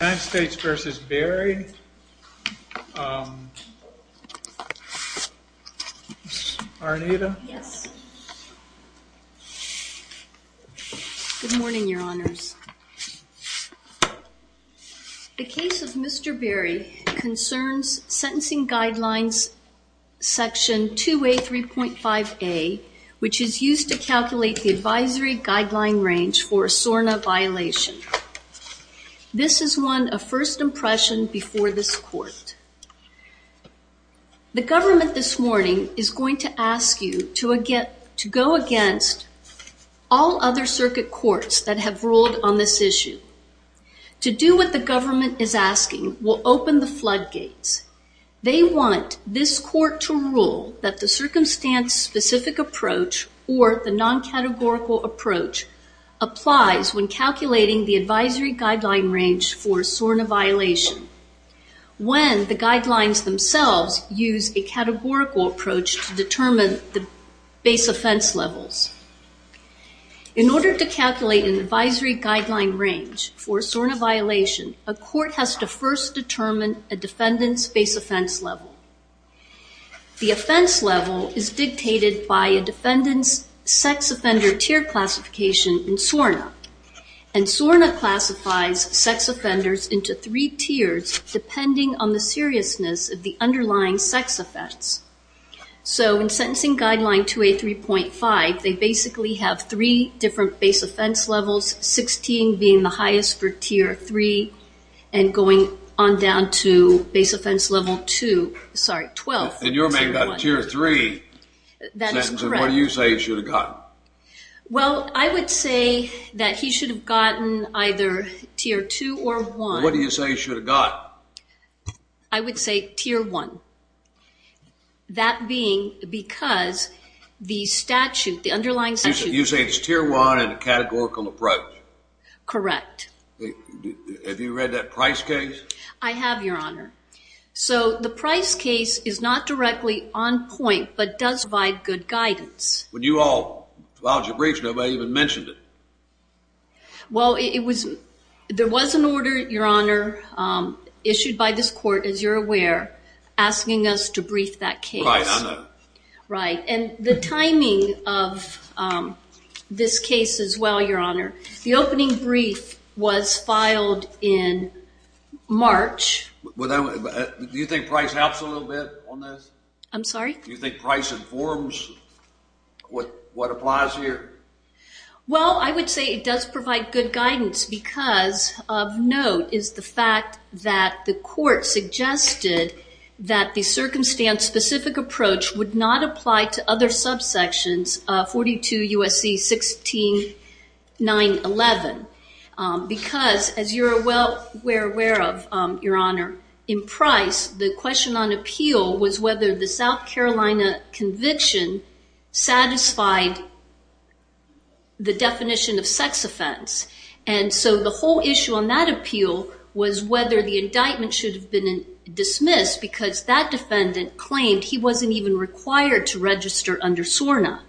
United States v. Berry, Arnita? Yes. Good morning, your honors. The case of Mr. Berry concerns sentencing guidelines section 2A3.5A, which is used to calculate the advisory guideline range for a SORNA violation. This is one of first impression before this court. The government this morning is going to ask you to go against all other circuit courts that have ruled on this issue. To do what the government is asking, we'll open the floodgates. They want this court to rule that the circumstance specific approach or the non-categorical approach applies when calculating the advisory guideline range for SORNA violation, when the guidelines themselves use a categorical approach to determine the base offense levels. In order to calculate an advisory guideline range for SORNA violation, a court has to first determine a defendant's base offense level. The offense level is dictated by a defendant's sex offender tier classification in SORNA. SORNA classifies sex offenders into three tiers depending on the seriousness of the underlying sex offense. In sentencing guideline 2A3.5, they basically have three different base offense levels, 16 being the highest for tier 3 and going on down to base offense level 2, sorry, 12. And your man got a tier 3. That is correct. And what do you say he should have gotten? Well, I would say that he should have gotten either tier 2 or 1. What do you say he should have gotten? I would say tier 1. That being because the statute, the underlying statute. You say it's tier 1 and a categorical approach? Correct. Have you read that Price case? I have, Your Honor. So the Price case is not directly on point, but does provide good guidance. When you all filed your briefs, nobody even mentioned it. Well, it was, there was an order, Your Honor, issued by this court, as you're aware, asking us to brief that case. Right, I know. Right, and the timing of this case as well, Your Honor, the opening brief was filed in March. Do you think Price helps a little bit on this? I'm sorry? Do you think Price informs what applies here? Well, I would say it does provide good guidance because of note is the fact that the court suggested that the circumstance-specific approach would not apply to other subsections, 42 USC 16911, because as you're well aware of, Your Honor, in Price, the question on appeal was whether the South Carolina conviction satisfied the definition of sex offense. And so the whole issue on that appeal was whether the indictment should have been dismissed because that defendant claimed he wasn't even required to register under SORNA.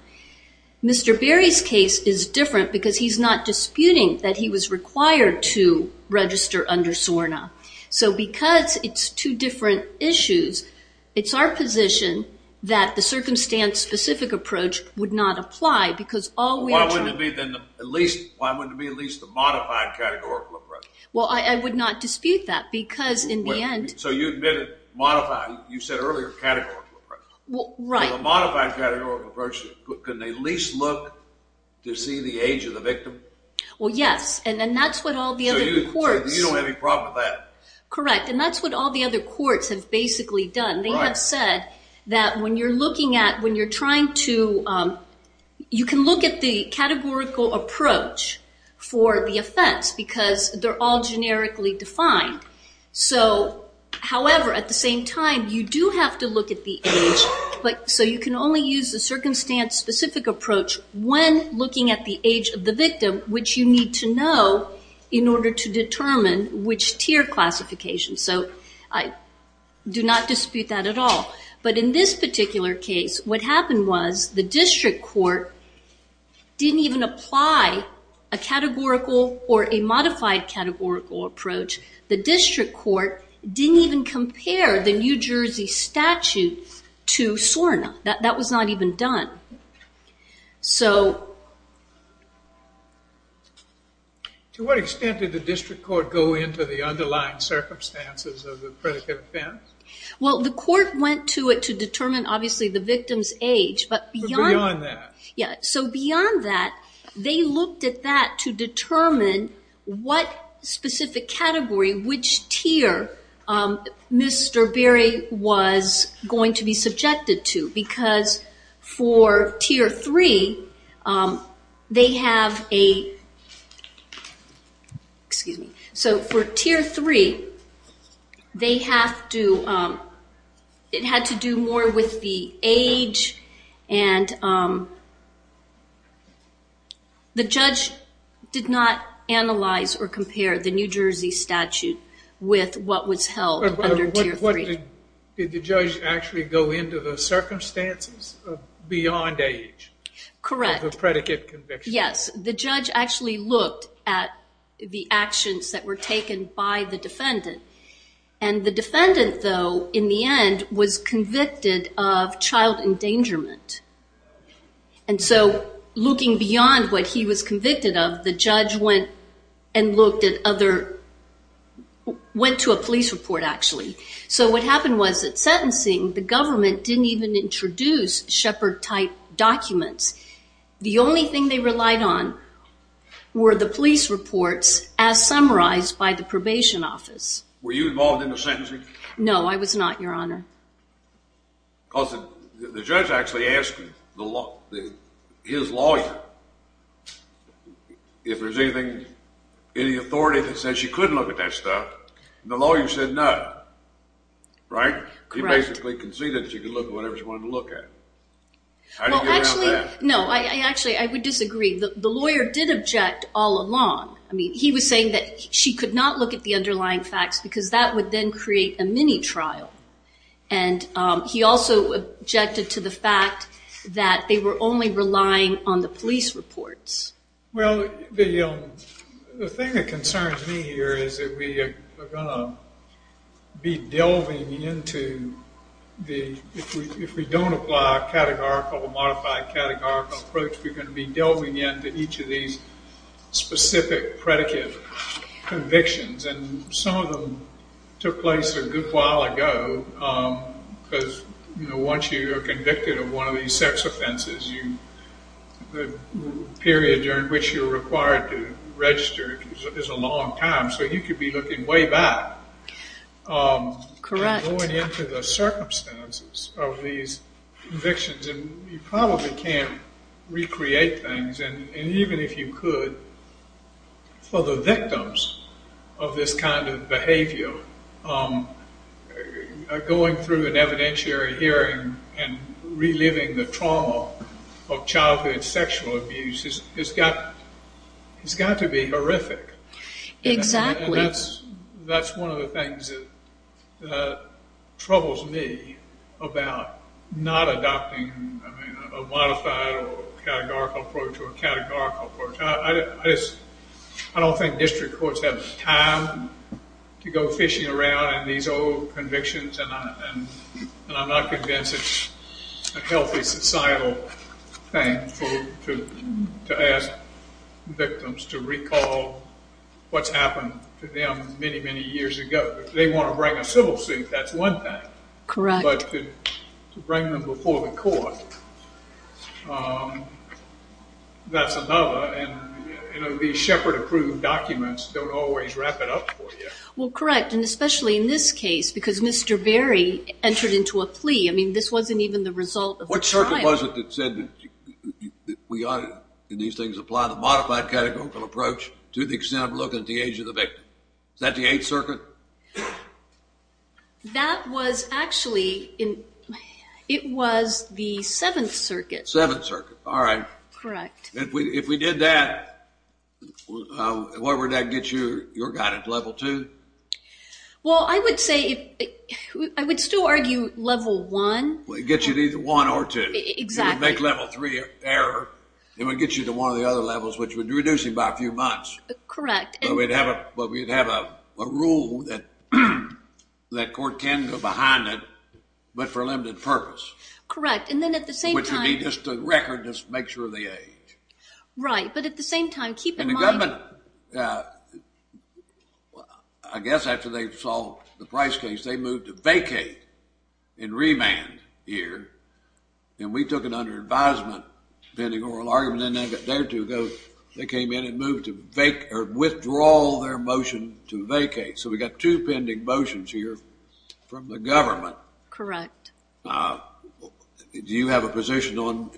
Mr. Berry's case is different because he's not disputing that he was required to register under SORNA. So because it's two different issues, it's our position that the circumstance-specific approach would not apply because all we are trying to... Well, why wouldn't it be then at least, why wouldn't it be at least a modified categorical appraisal? Well, I would not dispute that because in the end... So you admitted modified, you said earlier, categorical appraisal. Well, right. So a modified categorical approach, could they at least look to see the age of the victim? Well, yes. And then that's what all the other courts... So you don't have any problem with that? Correct. And that's what all the other courts have basically done. They have said that when you're looking at, when you're trying to, you can look at the categorical approach for the offense because they're all generically defined. So, however, at the same time, you do have to look at the age. So you can only use the circumstance-specific approach when looking at the age of the victim, which you need to know in order to determine which tier classification. So I do not dispute that at all. But in this particular case, what happened was the district court didn't even apply a categorical or a modified categorical approach. The district court didn't even compare the New Jersey statute to SORNA. That was not even done. To what extent did the district court go into the underlying circumstances of the predicate offense? Well, the court went to it to determine, obviously, the victim's age, but beyond that, they looked at that to determine what specific category, which tier Mr. Berry was going to be subjected to. Because for Tier 3, they have a, excuse me, so for Tier 3, they have to, it had to do more with the age and the judge did not analyze or compare the New Jersey statute with what was held under Tier 3. Did the judge actually go into the circumstances beyond age of the predicate conviction? Correct. Yes. The judge actually looked at the actions that were taken by the defendant. And the defendant, though, in the end was convicted of child endangerment. And so looking beyond what he was convicted of, the judge went and looked at other, went to a police report, actually. So what happened was that sentencing, the government didn't even introduce Shepard-type documents. The only thing they relied on were the police reports as summarized by the probation office. Were you involved in the sentencing? No, I was not, Your Honor. Because the judge actually asked him, his lawyer, if there's anything, any authority that says she couldn't look at that stuff, and the lawyer said no. Right? Correct. He basically conceded that she could look at whatever she wanted to look at. Well, actually, no, I actually, I would disagree. The lawyer did object all along. I mean, he was saying that she could not look at the underlying facts because that would then create a mini trial. And he also objected to the fact that they were only relying on the police reports. Well, the thing that concerns me here is that we are going to be delving into the, if we don't apply a categorical, a modified categorical approach, we're going to be delving into each of these specific predicate convictions. And some of them took place a good while ago because, you know, once you are convicted of one of these sex offenses, the period during which you're required to register is a long time. So you could be looking way back. Correct. Going into the circumstances of these convictions, and you probably can't recreate things, and even if you could, for the victims of this kind of behavior, going through an evidentiary hearing and reliving the trauma of childhood sexual abuse has got to be horrific. Exactly. And that's one of the things that troubles me about not adopting a modified or categorical approach or a categorical approach. I don't think district courts have the time to go fishing around in these old convictions, and I'm not convinced it's a healthy societal thing to ask victims to recall what's happened to them many, many years ago. If they want to bring a civil suit, that's one thing. Correct. But to bring them before the court, that's another. And, you know, these Shepard-approved documents don't always wrap it up for you. Well, correct, and especially in this case because Mr. Berry entered into a plea. I mean, this wasn't even the result of the trial. What circuit was it that said that we ought to, in these things, apply the modified categorical approach to the extent of looking at the age of the victim? Was that the Eighth Circuit? That was actually in – it was the Seventh Circuit. Seventh Circuit, all right. Correct. If we did that, where would that get you, your guidance, level two? Well, I would say – I would still argue level one. It would get you to either one or two. Exactly. It would make level three error. It would get you to one of the other levels, which would reduce you by a few months. Correct. But we'd have a rule that court can go behind it, but for a limited purpose. Correct, and then at the same time – Which would be just a record to make sure of the age. Right, but at the same time, keep in mind – And the government, I guess after they solved the Price case, they moved to vacate and remand here. And we took it under advisement, pending oral argument. They came in and moved to withdraw their motion to vacate. So we've got two pending motions here from the government. Correct. Do you have a position on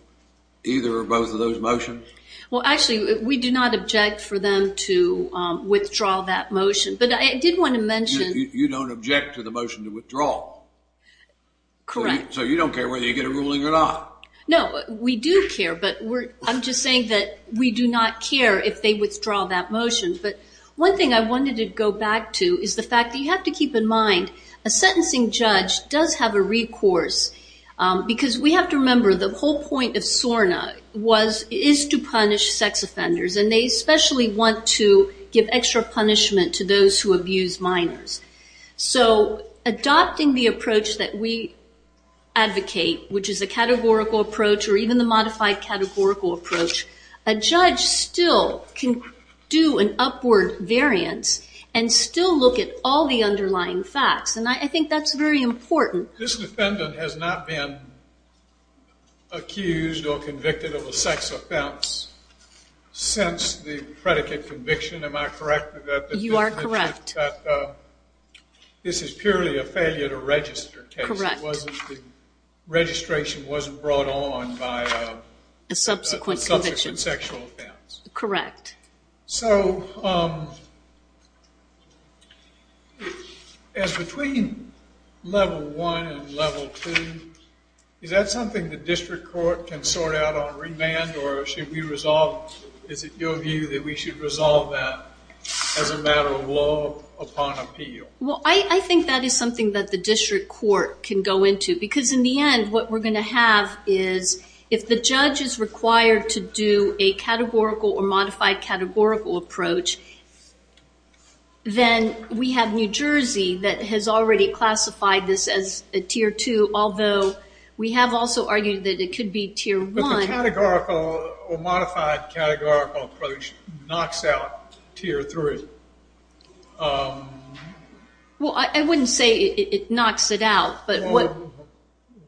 either or both of those motions? Well, actually, we do not object for them to withdraw that motion. But I did want to mention – You don't object to the motion to withdraw? Correct. So you don't care whether you get a ruling or not? No, we do care, but I'm just saying that we do not care if they withdraw that motion. But one thing I wanted to go back to is the fact that you have to keep in mind a sentencing judge does have a recourse. Because we have to remember the whole point of SORNA is to punish sex offenders. And they especially want to give extra punishment to those who abuse minors. So adopting the approach that we advocate, which is a categorical approach or even the modified categorical approach, a judge still can do an upward variance and still look at all the underlying facts. And I think that's very important. This defendant has not been accused or convicted of a sex offense since the predicate conviction, am I correct? You are correct. This is purely a failure to register case. Correct. Registration wasn't brought on by a subsequent sexual offense. Correct. So as between level one and level two, is that something the district court can sort out on remand? Or is it your view that we should resolve that as a matter of law upon appeal? Well, I think that is something that the district court can go into. Because in the end, what we're going to have is if the judge is required to do a categorical or modified categorical approach, then we have New Jersey that has already classified this as a tier two, although we have also argued that it could be tier one. But the categorical or modified categorical approach knocks out tier three. Well, I wouldn't say it knocks it out.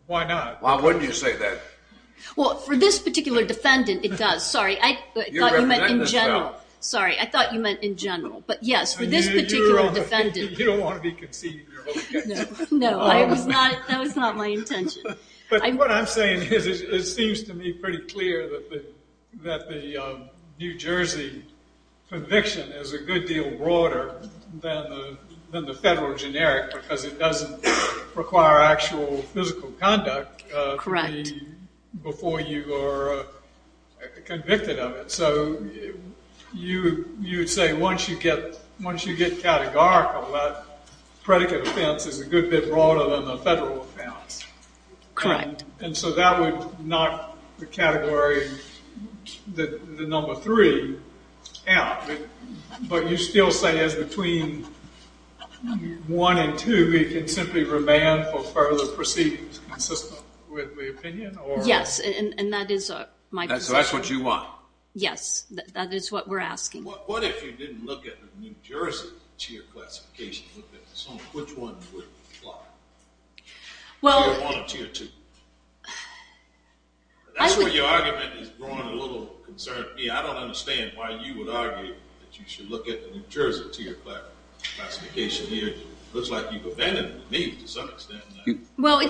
Why not? Why wouldn't you say that? Well, for this particular defendant, it does. Sorry, I thought you meant in general. Sorry, I thought you meant in general. But yes, for this particular defendant. You don't want to be conceded you're okay. No, that was not my intention. But what I'm saying is it seems to me pretty clear that the New Jersey conviction is a good deal broader than the federal generic, because it doesn't require actual physical conduct before you are convicted of it. And so you would say once you get categorical, that predicate offense is a good bit broader than the federal offense. Correct. And so that would knock the category, the number three out. But you still say it's between one and two. We can simply remand for further proceedings consistent with the opinion? Yes, and that is my question. So that's what you want? Yes, that is what we're asking. What if you didn't look at the New Jersey tier classification? Which one would apply? Tier one or tier two? That's where your argument is growing a little concerned me. I don't understand why you would argue that you should look at the New Jersey tier classification here. It looks like you've abandoned me to some extent. Here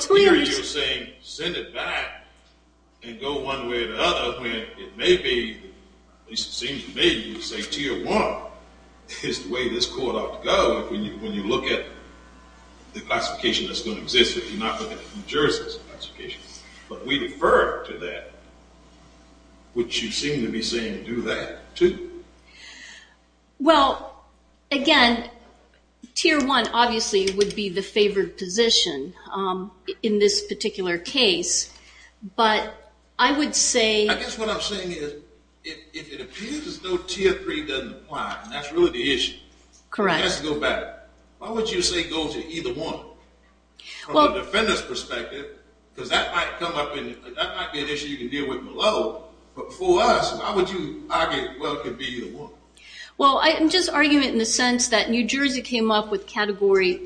you're saying send it back and go one way or the other. It may be, at least it seems to me, you say tier one is the way this court ought to go when you look at the classification that's going to exist if you're not looking at the New Jersey classification. But we defer to that, which you seem to be saying do that too. Well, again, tier one obviously would be the favored position in this particular case. But I would say... I guess what I'm saying is if it appears as though tier three doesn't apply, and that's really the issue. Correct. Let's go back. Why would you say go to either one from a defendant's perspective? Because that might come up and that might be an issue you can deal with below. But for us, why would you argue, well, it could be either one? Well, I'm just arguing it in the sense that New Jersey came up with category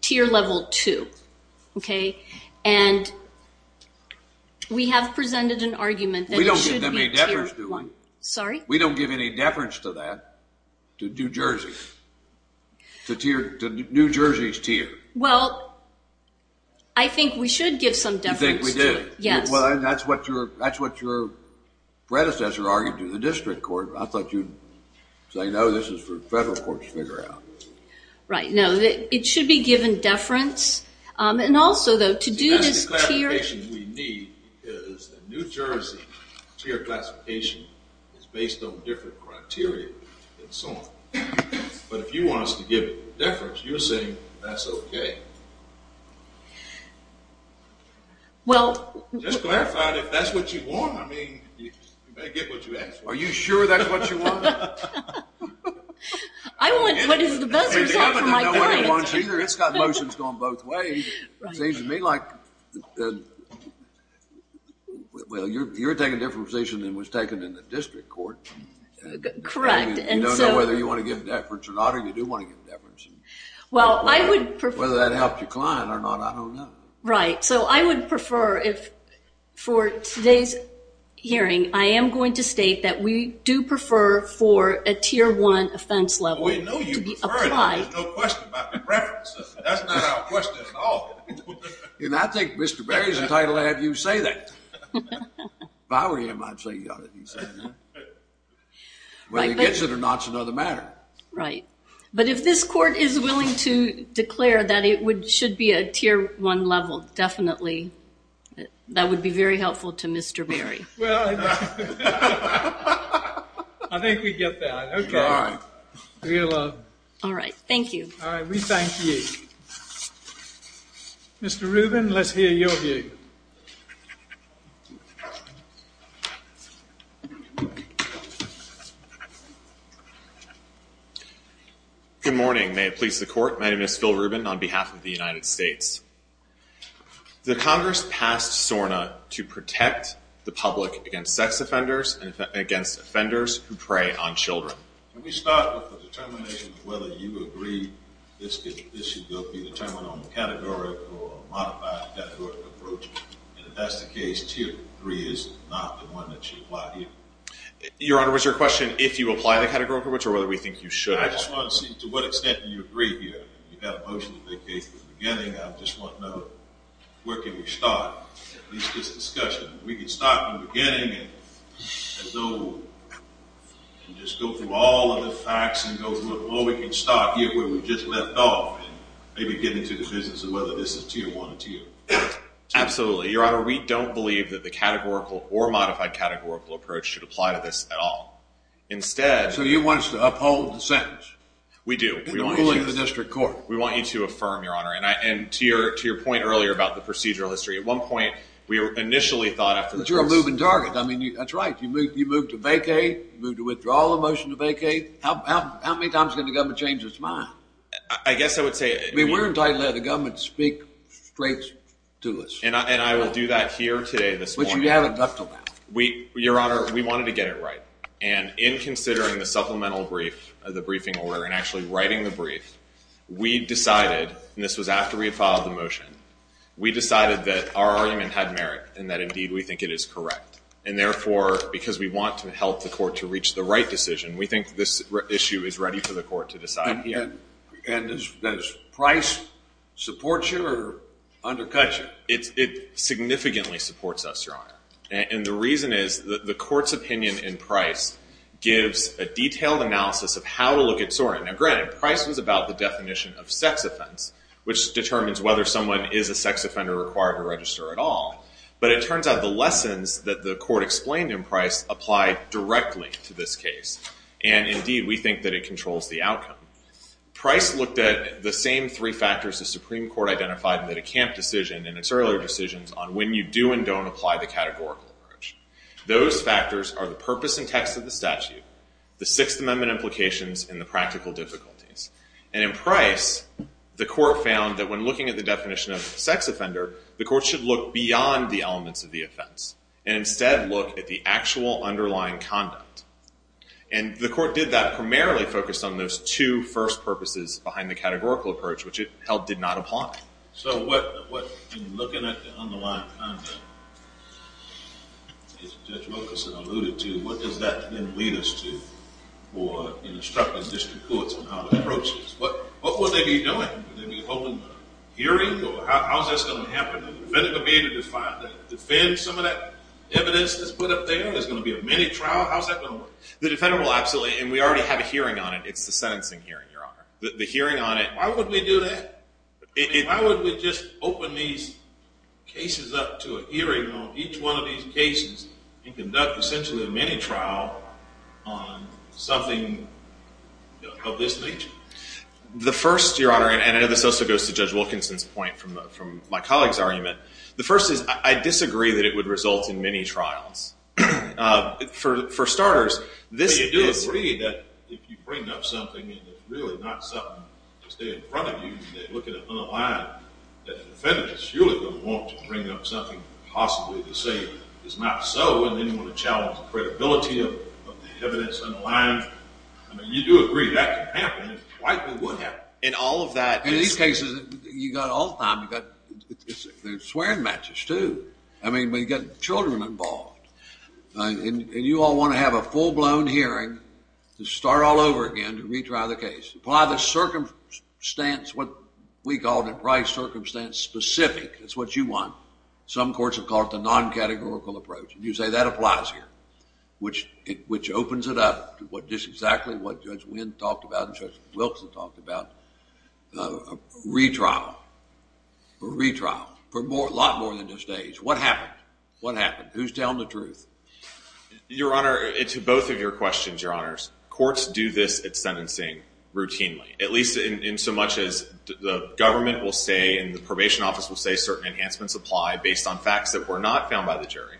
tier level two, okay? And we have presented an argument that it should be tier one. We don't give them any deference to that. Sorry? We don't give any deference to that, to New Jersey, to New Jersey's tier. Well, I think we should give some deference to it. You think we do? Yes. Well, that's what your predecessor argued to the district court. I thought you'd say, no, this is for federal courts to figure out. Right. No, it should be given deference. And also, though, to do this tier... The classification we need is the New Jersey tier classification is based on different criteria and so on. But if you want us to give it deference, you're saying that's okay. Well... Just clarify if that's what you want. I mean, you better get what you ask for. Are you sure that's what you want? I want what is the best result for my clients. It's got motions going both ways. It seems to me like, well, you're taking a different position than was taken in the district court. Correct. You don't know whether you want to give deference or not, or you do want to give deference. Whether that helped your client or not, I don't know. Right. So I would prefer, for today's hearing, I am going to state that we do prefer for a tier one offense level to be applied. We know you prefer it. There's no question about the preferences. That's not our question at all. And I think Mr. Berry is entitled to have you say that. If I were him, I'd say you ought to be saying that. Whether he gets it or not is another matter. Right. But if this court is willing to declare that it should be a tier one level, definitely, that would be very helpful to Mr. Berry. Well, I think we get that. Okay. All right. Thank you. All right. We thank you. Mr. Rubin, let's hear your view. Good morning. May it please the Court. My name is Phil Rubin on behalf of the United States. The Congress passed SORNA to protect the public against sex offenders and against offenders who prey on children. Can we start with the determination of whether you agree this should be determined on the categorical or modified categorical approach? And if that's the case, tier three is not the one that you apply here? Your Honor, was your question if you apply the categorical approach or whether we think you should? I just want to see to what extent you agree here. You have a motion to vacate at the beginning. I just want to know where can we start at least this discussion. We can start at the beginning and just go through all of the facts and go through it. Or we can start here where we just left off and maybe get into the business of whether this is tier one or tier two. Absolutely. Your Honor, we don't believe that the categorical or modified categorical approach should apply to this at all. So you want us to uphold the sentence? We do. And the ruling of the district court? We want you to affirm, Your Honor. And to your point earlier about the procedural history, at one point we initially thought after this. But you're a moving target. I mean, that's right. You moved to vacate. You moved to withdraw the motion to vacate. How many times can the government change its mind? I guess I would say. I mean, we're entitled to have the government speak straight to us. And I will do that here today this morning. Which you haven't done until now. Your Honor, we wanted to get it right. And in considering the supplemental brief, the briefing order, and actually writing the brief, we decided, and this was after we had filed the motion, we decided that our argument had merit and that indeed we think it is correct. And therefore, because we want to help the court to reach the right decision, we think this issue is ready for the court to decide. And does Price support you or undercut you? It significantly supports us, Your Honor. And the reason is the court's opinion in Price gives a detailed analysis of how to look at SORA. Now, granted, Price was about the definition of sex offense, which determines whether someone is a sex offender required to register at all. But it turns out the lessons that the court explained in Price apply directly to this case. And indeed, we think that it controls the outcome. Price looked at the same three factors the Supreme Court identified in the DeCamp decision and its earlier decisions on when you do and don't apply the categorical approach. Those factors are the purpose and text of the statute, the Sixth Amendment implications, and the practical difficulties. And in Price, the court found that when looking at the definition of sex offender, the court should look beyond the elements of the offense and instead look at the actual underlying conduct. And the court did that primarily focused on those two first purposes behind the categorical approach, which it held did not apply. So in looking at the underlying conduct, as Judge Wilkerson alluded to, what does that then lead us to for instructing district courts on how to approach this? What would they be doing? Would they be holding a hearing? Or how is this going to happen? Is the defendant going to be able to defend some of that evidence that's put up there? Is there going to be a mini trial? How is that going to work? The defendant will absolutely. And we already have a hearing on it. It's the sentencing hearing, Your Honor. The hearing on it. Why would we do that? Why would we just open these cases up to a hearing on each one of these cases and conduct essentially a mini trial on something of this nature? The first, Your Honor, and this also goes to Judge Wilkerson's point from my colleague's argument. The first is I disagree that it would result in mini trials. For starters, this is – But you do agree that if you bring up something and it's really not something to stay in front of you, and they look at it unaligned, that the defendant is surely going to want to bring up something possibly to say is not so, and then you want to challenge the credibility of the evidence unaligned. I mean, you do agree that can happen. It quite well would happen. And all of that – I mean, we've got children involved. And you all want to have a full-blown hearing to start all over again to retry the case. Apply the circumstance, what we call the price circumstance, specific. That's what you want. Some courts have called it the non-categorical approach. And you say that applies here, which opens it up to just exactly what Judge Wynn talked about and Judge Wilson talked about, retrial. Retrial. For a lot more than just days. What happened? What happened? Who's telling the truth? Your Honor, to both of your questions, Your Honors, courts do this at sentencing routinely, at least in so much as the government will say and the probation office will say certain enhancements apply based on facts that were not found by the jury.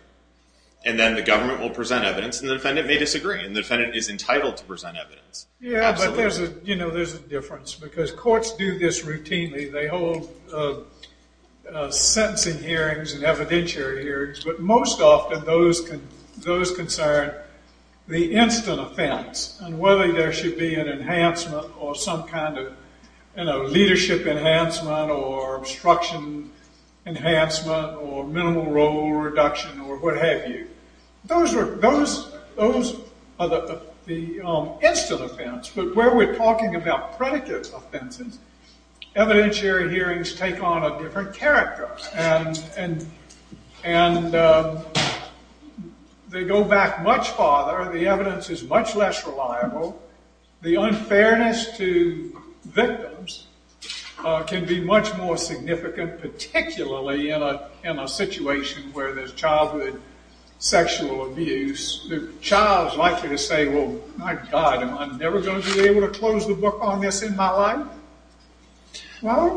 And then the government will present evidence, and the defendant may disagree. And the defendant is entitled to present evidence. Yeah, but there's a difference because courts do this routinely. They hold sentencing hearings and evidentiary hearings. But most often those concern the instant offense and whether there should be an enhancement or some kind of leadership enhancement or obstruction enhancement or minimal role reduction or what have you. Those are the instant offense. But where we're talking about predicate offenses, evidentiary hearings take on a different character. And they go back much farther. The evidence is much less reliable. The unfairness to victims can be much more significant, particularly in a situation where there's childhood sexual abuse. The child's likely to say, well, my God, am I never going to be able to close the book on this in my life? Why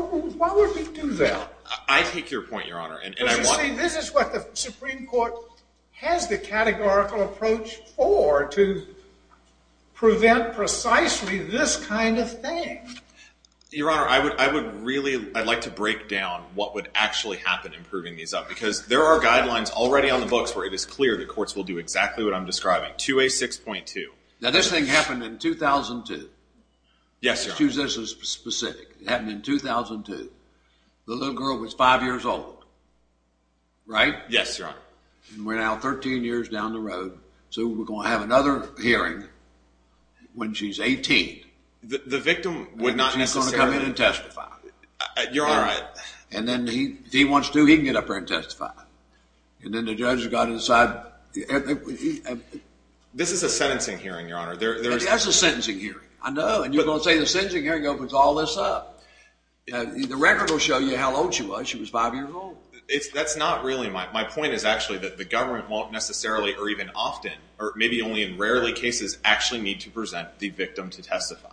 would we do that? I take your point, Your Honor. But you see, this is what the Supreme Court has the categorical approach for to prevent precisely this kind of thing. Your Honor, I would really like to break down what would actually happen in proving these up because there are guidelines already on the books where it is clear that courts will do exactly what I'm describing. 2A6.2. Now this thing happened in 2002. Yes, Your Honor. Excuse this as specific. It happened in 2002. The little girl was 5 years old, right? Yes, Your Honor. And we're now 13 years down the road. So we're going to have another hearing when she's 18. She's going to come in and testify. Your Honor. And then if he wants to, he can get up there and testify. And then the judge has got to decide. This is a sentencing hearing, Your Honor. That's a sentencing hearing. I know. And you're going to say the sentencing hearing opens all this up. The record will show you how old she was. She was 5 years old. That's not really my point. My point is actually that the government won't necessarily or even often or maybe only in rarely cases actually need to present the victim to testify.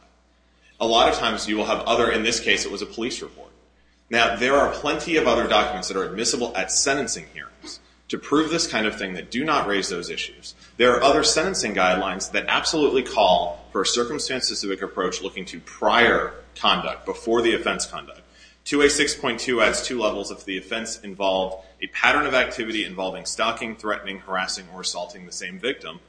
A lot of times you will have other. In this case, it was a police report. Now there are plenty of other documents that are admissible at sentencing hearings to prove this kind of thing that do not raise those issues. There are other sentencing guidelines that absolutely call for a circumstance-specific approach looking to prior conduct before the offense conduct. 2A6.2 adds two levels if the offense involved a pattern of activity involving stalking, threatening, harassing, or assaulting the same victim.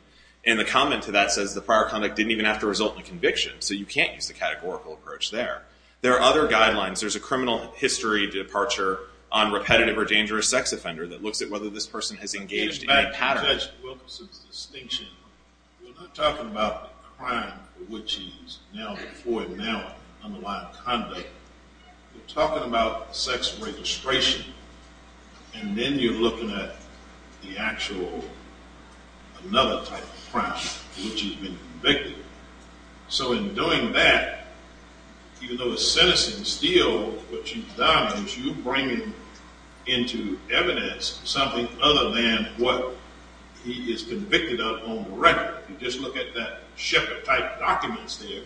And the comment to that says the prior conduct didn't even have to result in a conviction. So you can't use the categorical approach there. There are other guidelines. There's a criminal history departure on repetitive or dangerous sex offender that looks at whether this person has engaged in a pattern. In fact, Judge Wilkinson's distinction, we're not talking about a crime for which he's now before him now underlined conduct. We're talking about sex registration. And then you're looking at the actual another type of crime for which he's been convicted. So in doing that, even though the sentencing is still what you've done, you bring into evidence something other than what he is convicted of on record. You just look at that Sheppard-type documents there.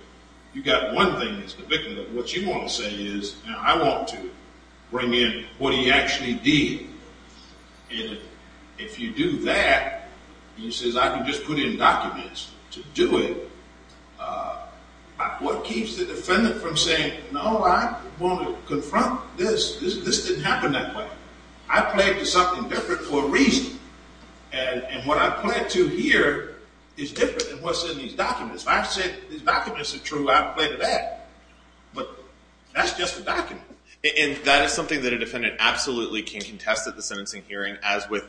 You've got one thing that's convicted of. What you want to say is, I want to bring in what he actually did. And if you do that, and he says, I can just put in documents to do it, what keeps the defendant from saying, No, I want to confront this. This didn't happen that way. I pled to something different for a reason. And what I pled to here is different than what's in these documents. If I said these documents are true, I pled to that. But that's just a document. And that is something that a defendant absolutely can contest at the sentencing hearing, as with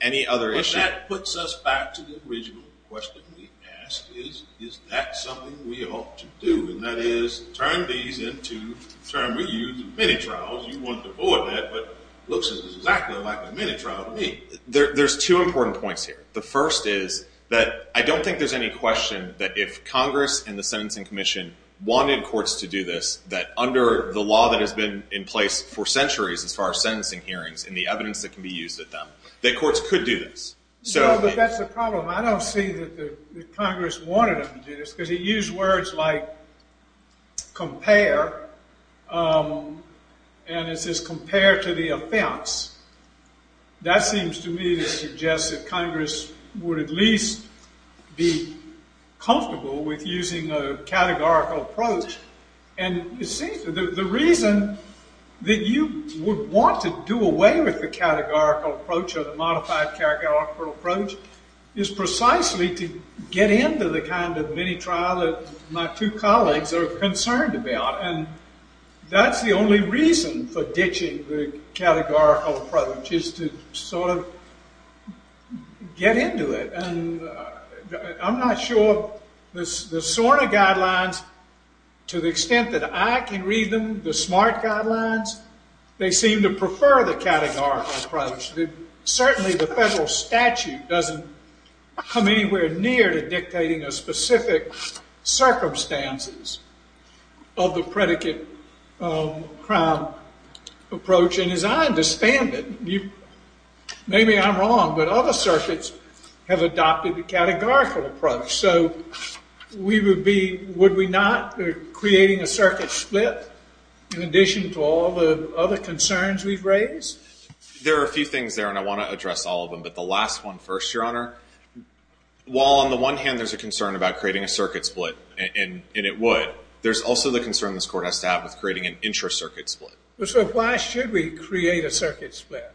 any other issue. But that puts us back to the original question we asked is, is that something we ought to do? And that is turn these into, the term we use, mini-trials. You want to avoid that, but it looks exactly like a mini-trial to me. There's two important points here. The first is that I don't think there's any question that if Congress and the Sentencing Commission wanted courts to do this, that under the law that has been in place for centuries as far as sentencing hearings and the evidence that can be used at them, that courts could do this. No, but that's the problem. I don't see that Congress wanted them to do this because it used words like compare, and it says compare to the offense. That seems to me to suggest that Congress would at least be comfortable with using a categorical approach. And it seems that the reason that you would want to do away with the categorical approach or the modified categorical approach is precisely to get into the kind of mini-trial that my two colleagues are concerned about. And that's the only reason for ditching the categorical approach is to sort of get into it. I'm not sure the SORNA guidelines, to the extent that I can read them, the SMART guidelines, they seem to prefer the categorical approach. Certainly the federal statute doesn't come anywhere near to dictating a specific circumstances of the predicate crime approach. And as I understand it, maybe I'm wrong, but other circuits have adopted the categorical approach. So would we not be creating a circuit split in addition to all the other concerns we've raised? There are a few things there, and I want to address all of them. But the last one first, Your Honor. While on the one hand there's a concern about creating a circuit split, and it would, there's also the concern this Court has to have with creating an intra-circuit split. Well, so why should we create a circuit split?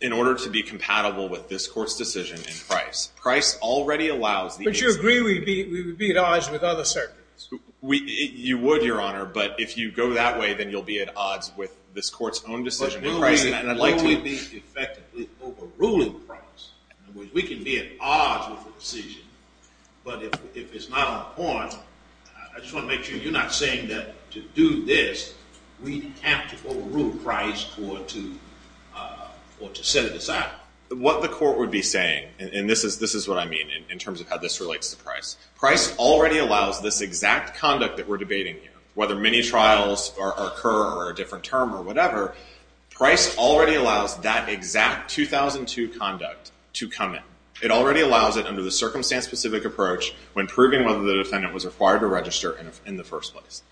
In order to be compatible with this Court's decision in Price. Price already allows the instance... But you agree we would be at odds with other circuits? You would, Your Honor, but if you go that way, then you'll be at odds with this Court's own decision in Price, and I'd like to... But will we be effectively overruling Price? In other words, we can be at odds with the decision, but if it's not on point, I just want to make sure you're not saying that to do this, we have to overrule Price or to set it aside. What the Court would be saying, and this is what I mean in terms of how this relates to Price. Price already allows this exact conduct that we're debating here, whether mini-trials occur or a different term or whatever, Price already allows that exact 2002 conduct to come in. It already allows it under the circumstance-specific approach when proving whether the defendant was required to register in the first place.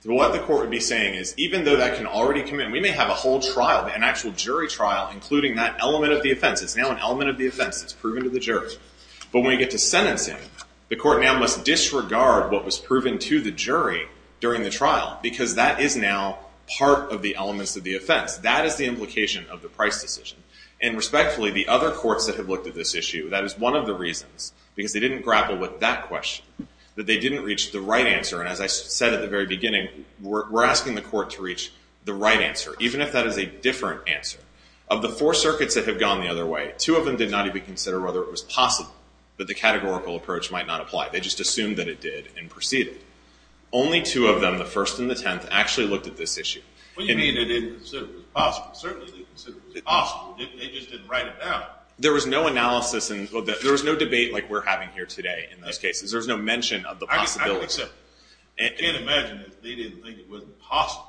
So what the Court would be saying is, even though that can already come in, we may have a whole trial, an actual jury trial, including that element of the offense. It's now an element of the offense that's proven to the jury. But when we get to sentencing, the Court now must disregard what was proven to the jury during the trial because that is now part of the elements of the offense. That is the implication of the Price decision. And respectfully, the other courts that have looked at this issue, that is one of the reasons, because they didn't grapple with that question, that they didn't reach the right answer. And as I said at the very beginning, we're asking the Court to reach the right answer, even if that is a different answer. Of the four circuits that have gone the other way, two of them did not even consider whether it was possible that the categorical approach might not apply. They just assumed that it did and proceeded. Only two of them, the first and the tenth, actually looked at this issue. What do you mean they didn't consider it possible? Certainly they considered it possible. They just didn't write it down. There was no analysis. There was no debate like we're having here today in those cases. There was no mention of the possibility. I can accept that. I can't imagine that they didn't think it wasn't possible.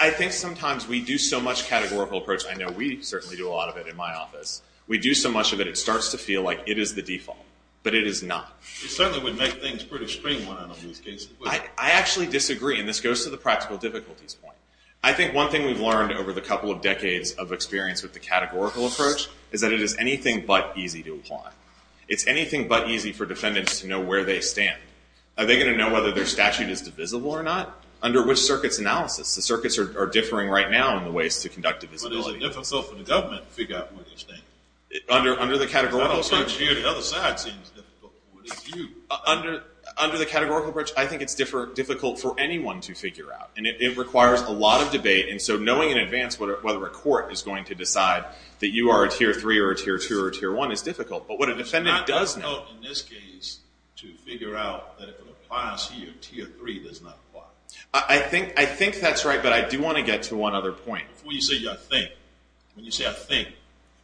I think sometimes we do so much categorical approach. I know we certainly do a lot of it in my office. We do so much of it, it starts to feel like it is the default. But it is not. It certainly would make things pretty stringent on these cases. I actually disagree, and this goes to the practical difficulties point. I think one thing we've learned over the couple of decades of experience with the categorical approach is that it is anything but easy to apply. It's anything but easy for defendants to know where they stand. Are they going to know whether their statute is divisible or not? Under which circuits analysis? The circuits are differing right now in the ways to conduct divisibility. But is it difficult for the government to figure out where they stand? Under the categorical approach? That whole bunch of you on the other side seems difficult. What about you? Under the categorical approach, I think it's difficult for anyone to figure out. And it requires a lot of debate. And so knowing in advance whether a court is going to decide that you are a tier 3 or a tier 2 or a tier 1 is difficult. But what a defendant does know. It's not difficult in this case to figure out that if it applies here, tier 3 does not apply. I think that's right, but I do want to get to one other point. Before you say I think, when you say I think,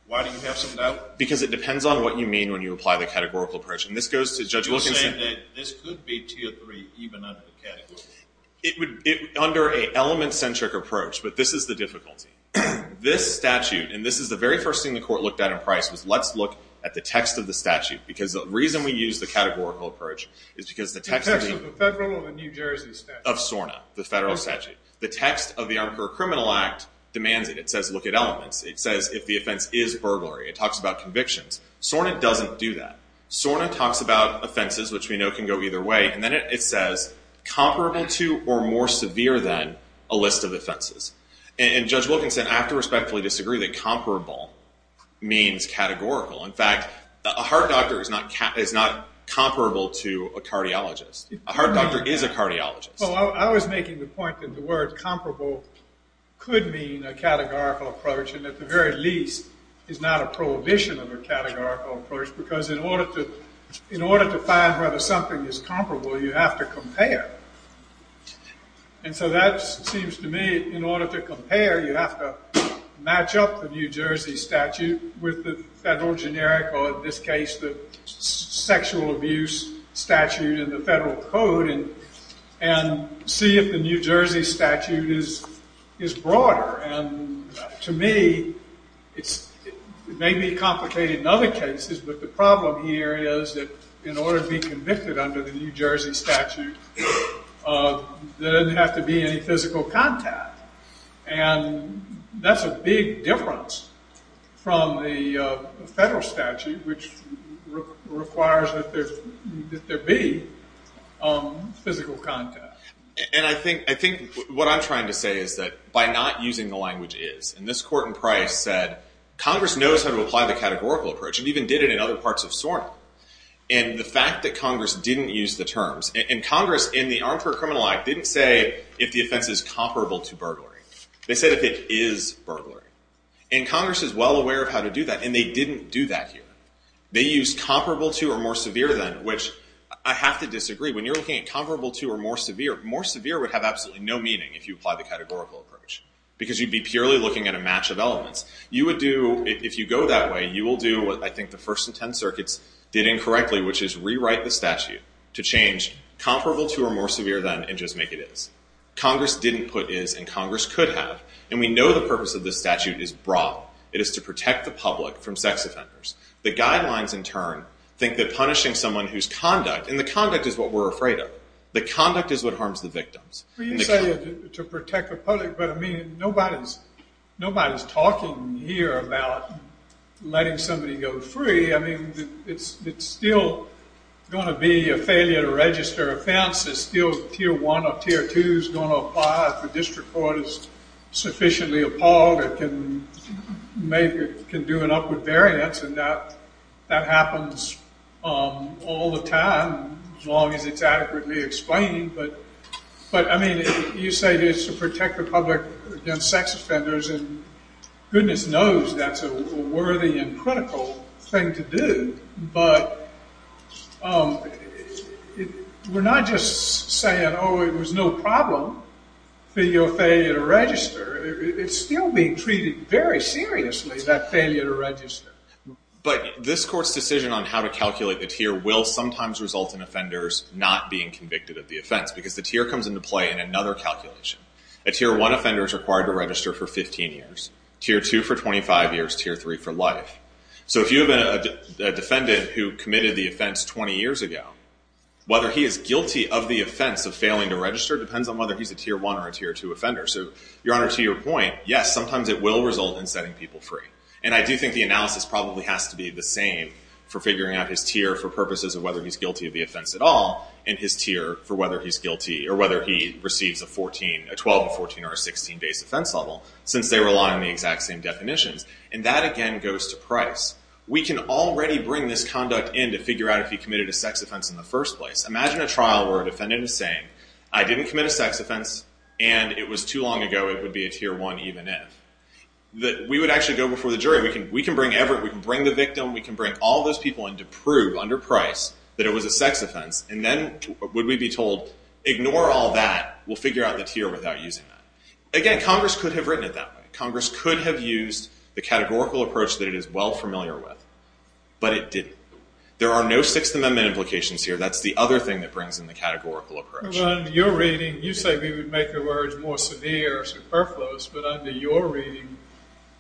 why do you have some doubt? Because it depends on what you mean when you apply the categorical approach. And this goes to Judge Wilkinson. So you're saying that this could be tier 3 even under the categorical approach? Under an element-centric approach, but this is the difficulty. This statute, and this is the very first thing the court looked at in Price, was let's look at the text of the statute. Because the reason we use the categorical approach is because the text of the... The text of the federal or the New Jersey statute? Of SORNA, the federal statute. The text of the Arbiter of Criminal Act demands it. It says look at elements. It says if the offense is burglary. It talks about convictions. SORNA doesn't do that. SORNA talks about offenses, which we know can go either way. And then it says comparable to or more severe than a list of offenses. And Judge Wilkinson, I have to respectfully disagree that comparable means categorical. In fact, a heart doctor is not comparable to a cardiologist. A heart doctor is a cardiologist. I was making the point that the word comparable could mean a categorical approach. And at the very least is not a prohibition of a categorical approach. Because in order to find whether something is comparable, you have to compare. And so that seems to me in order to compare, you have to match up the New Jersey statute with the federal generic or in this case the sexual abuse statute in the federal code and see if the New Jersey statute is broader. And to me, it may be complicated in other cases, but the problem here is that in order to be convicted under the New Jersey statute, there doesn't have to be any physical contact. And that's a big difference from the federal statute, which requires that there be physical contact. And I think what I'm trying to say is that by not using the language is, and this court in Price said Congress knows how to apply the categorical approach. It even did it in other parts of SORNA. And the fact that Congress didn't use the terms, and Congress in the Armed Court Criminal Act didn't say if the offense is comparable to burglary. They said if it is burglary. And Congress is well aware of how to do that, and they didn't do that here. They used comparable to or more severe than, which I have to disagree. When you're looking at comparable to or more severe, more severe would have absolutely no meaning if you apply the categorical approach, because you'd be purely looking at a match of elements. You would do, if you go that way, you will do what I think the First and Tenth Circuits did incorrectly, which is rewrite the statute to change comparable to or more severe than and just make it is. Congress didn't put is, and Congress could have. And we know the purpose of this statute is broad. It is to protect the public from sex offenders. The guidelines, in turn, think that punishing someone whose conduct, and the conduct is what we're afraid of, the conduct is what harms the victims. Well, you say to protect the public, but, I mean, nobody's talking here about letting somebody go free. I mean, it's still going to be a failure to register offense. It's still Tier 1 or Tier 2 is going to apply if the district court is sufficiently appalled or can do an upward variance, and that happens all the time as long as it's adequately explained. But, I mean, you say it's to protect the public against sex offenders, and goodness knows that's a worthy and critical thing to do. But we're not just saying, oh, it was no problem for your failure to register. It's still being treated very seriously, that failure to register. But this Court's decision on how to calculate the tier will sometimes result in offenders not being convicted of the offense, because the tier comes into play in another calculation. A Tier 1 offender is required to register for 15 years, Tier 2 for 25 years, Tier 3 for life. So if you have a defendant who committed the offense 20 years ago, whether he is guilty of the offense of failing to register depends on whether he's a Tier 1 or a Tier 2 offender. So, Your Honor, to your point, yes, sometimes it will result in setting people free. And I do think the analysis probably has to be the same for figuring out his tier for purposes of whether he's guilty of the offense at all and his tier for whether he's guilty or whether he receives a 12, a 14, or a 16 base offense level, since they rely on the exact same definitions. And that, again, goes to price. We can already bring this conduct in to figure out if he committed a sex offense in the first place. Imagine a trial where a defendant is saying, I didn't commit a sex offense, and it was too long ago, it would be a Tier 1 even if. We would actually go before the jury. We can bring the victim, we can bring all those people in to prove under price that it was a sex offense, and then would we be told, ignore all that, we'll figure out the tier without using that. Again, Congress could have written it that way. Congress could have used the categorical approach that it is well familiar with, but it didn't. There are no Sixth Amendment implications here. That's the other thing that brings in the categorical approach. Well, under your reading, you say we would make the words more severe or superfluous, but under your reading,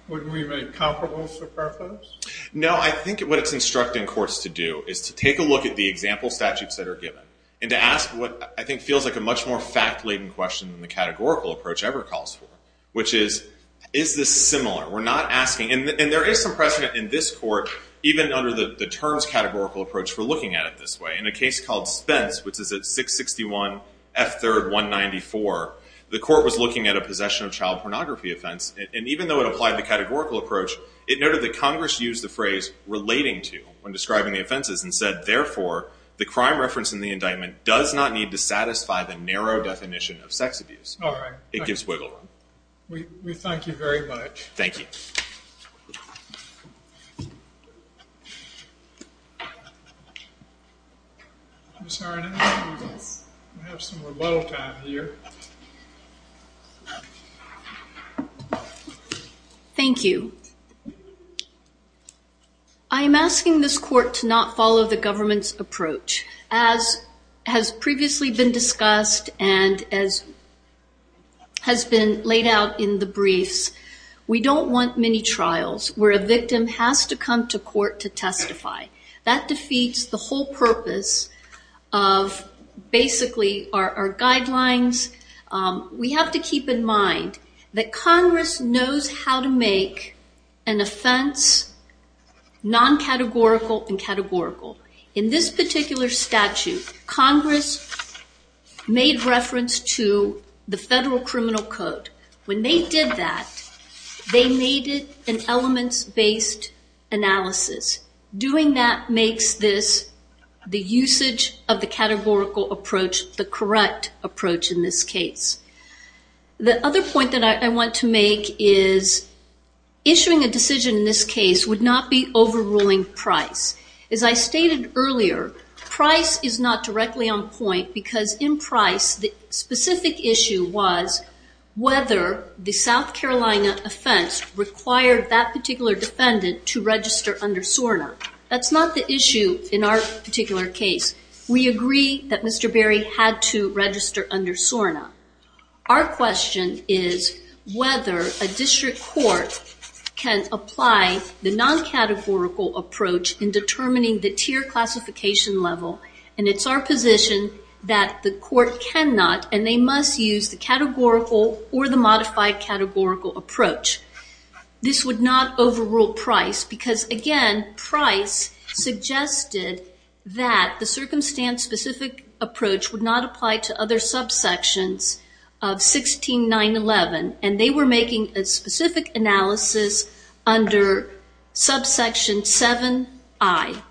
wouldn't we make comparable superfluous? No, I think what it's instructing courts to do is to take a look at the example statutes that are given and to ask what I think feels like a much more fact-laden question than the categorical approach ever calls for, which is, is this similar? There is some precedent in this court, even under the terms categorical approach, for looking at it this way. In a case called Spence, which is at 661 F. 3rd 194, the court was looking at a possession of child pornography offense, and even though it applied the categorical approach, it noted that Congress used the phrase relating to when describing the offenses and said, therefore, the crime reference in the indictment does not need to satisfy the narrow definition of sex abuse. It gives wiggle room. We thank you very much. Thank you. Ms. Harnan, we have some rebuttal time here. Thank you. I am asking this court to not follow the government's approach. As previously been discussed and as has been laid out in the briefs, we don't want many trials where a victim has to come to court to testify. That defeats the whole purpose of basically our guidelines. We have to keep in mind that Congress knows how to make an offense non-categorical and categorical. In this particular statute, Congress made reference to the Federal Criminal Code. When they did that, they made it an elements-based analysis. Doing that makes this, the usage of the categorical approach, the correct approach in this case. The other point that I want to make is issuing a decision in this case would not be overruling price. As I stated earlier, price is not directly on point because in price, the specific issue was whether the South Carolina offense required that particular defendant to register under SORNA. That's not the issue in our particular case. We agree that Mr. Berry had to register under SORNA. Our question is whether a district court can apply the non-categorical approach in determining the tier classification level. It's our position that the court cannot and they must use the categorical or the modified categorical approach. This would not overrule price because, again, price suggested that the circumstance-specific approach would not apply to other subsections of 16911. They were making a specific analysis under subsection 7i.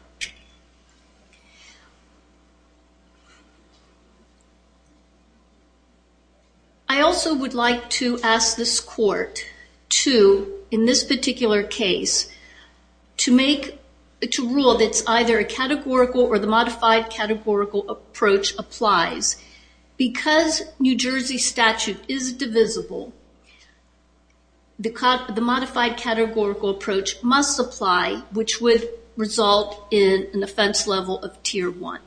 I also would like to ask this court to, in this particular case, to rule that it's either a categorical or the modified categorical approach applies. Because New Jersey statute is divisible, the modified categorical approach must apply, which would result in an offense level of tier 1.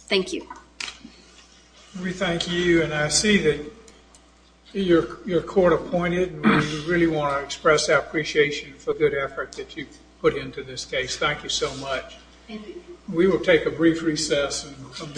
Thank you. We thank you, and I see that your court appointed. We really want to express our appreciation for the good effort that you've put into this case. Thank you so much. Thank you. We will take a brief recess and come down and wait for counsel.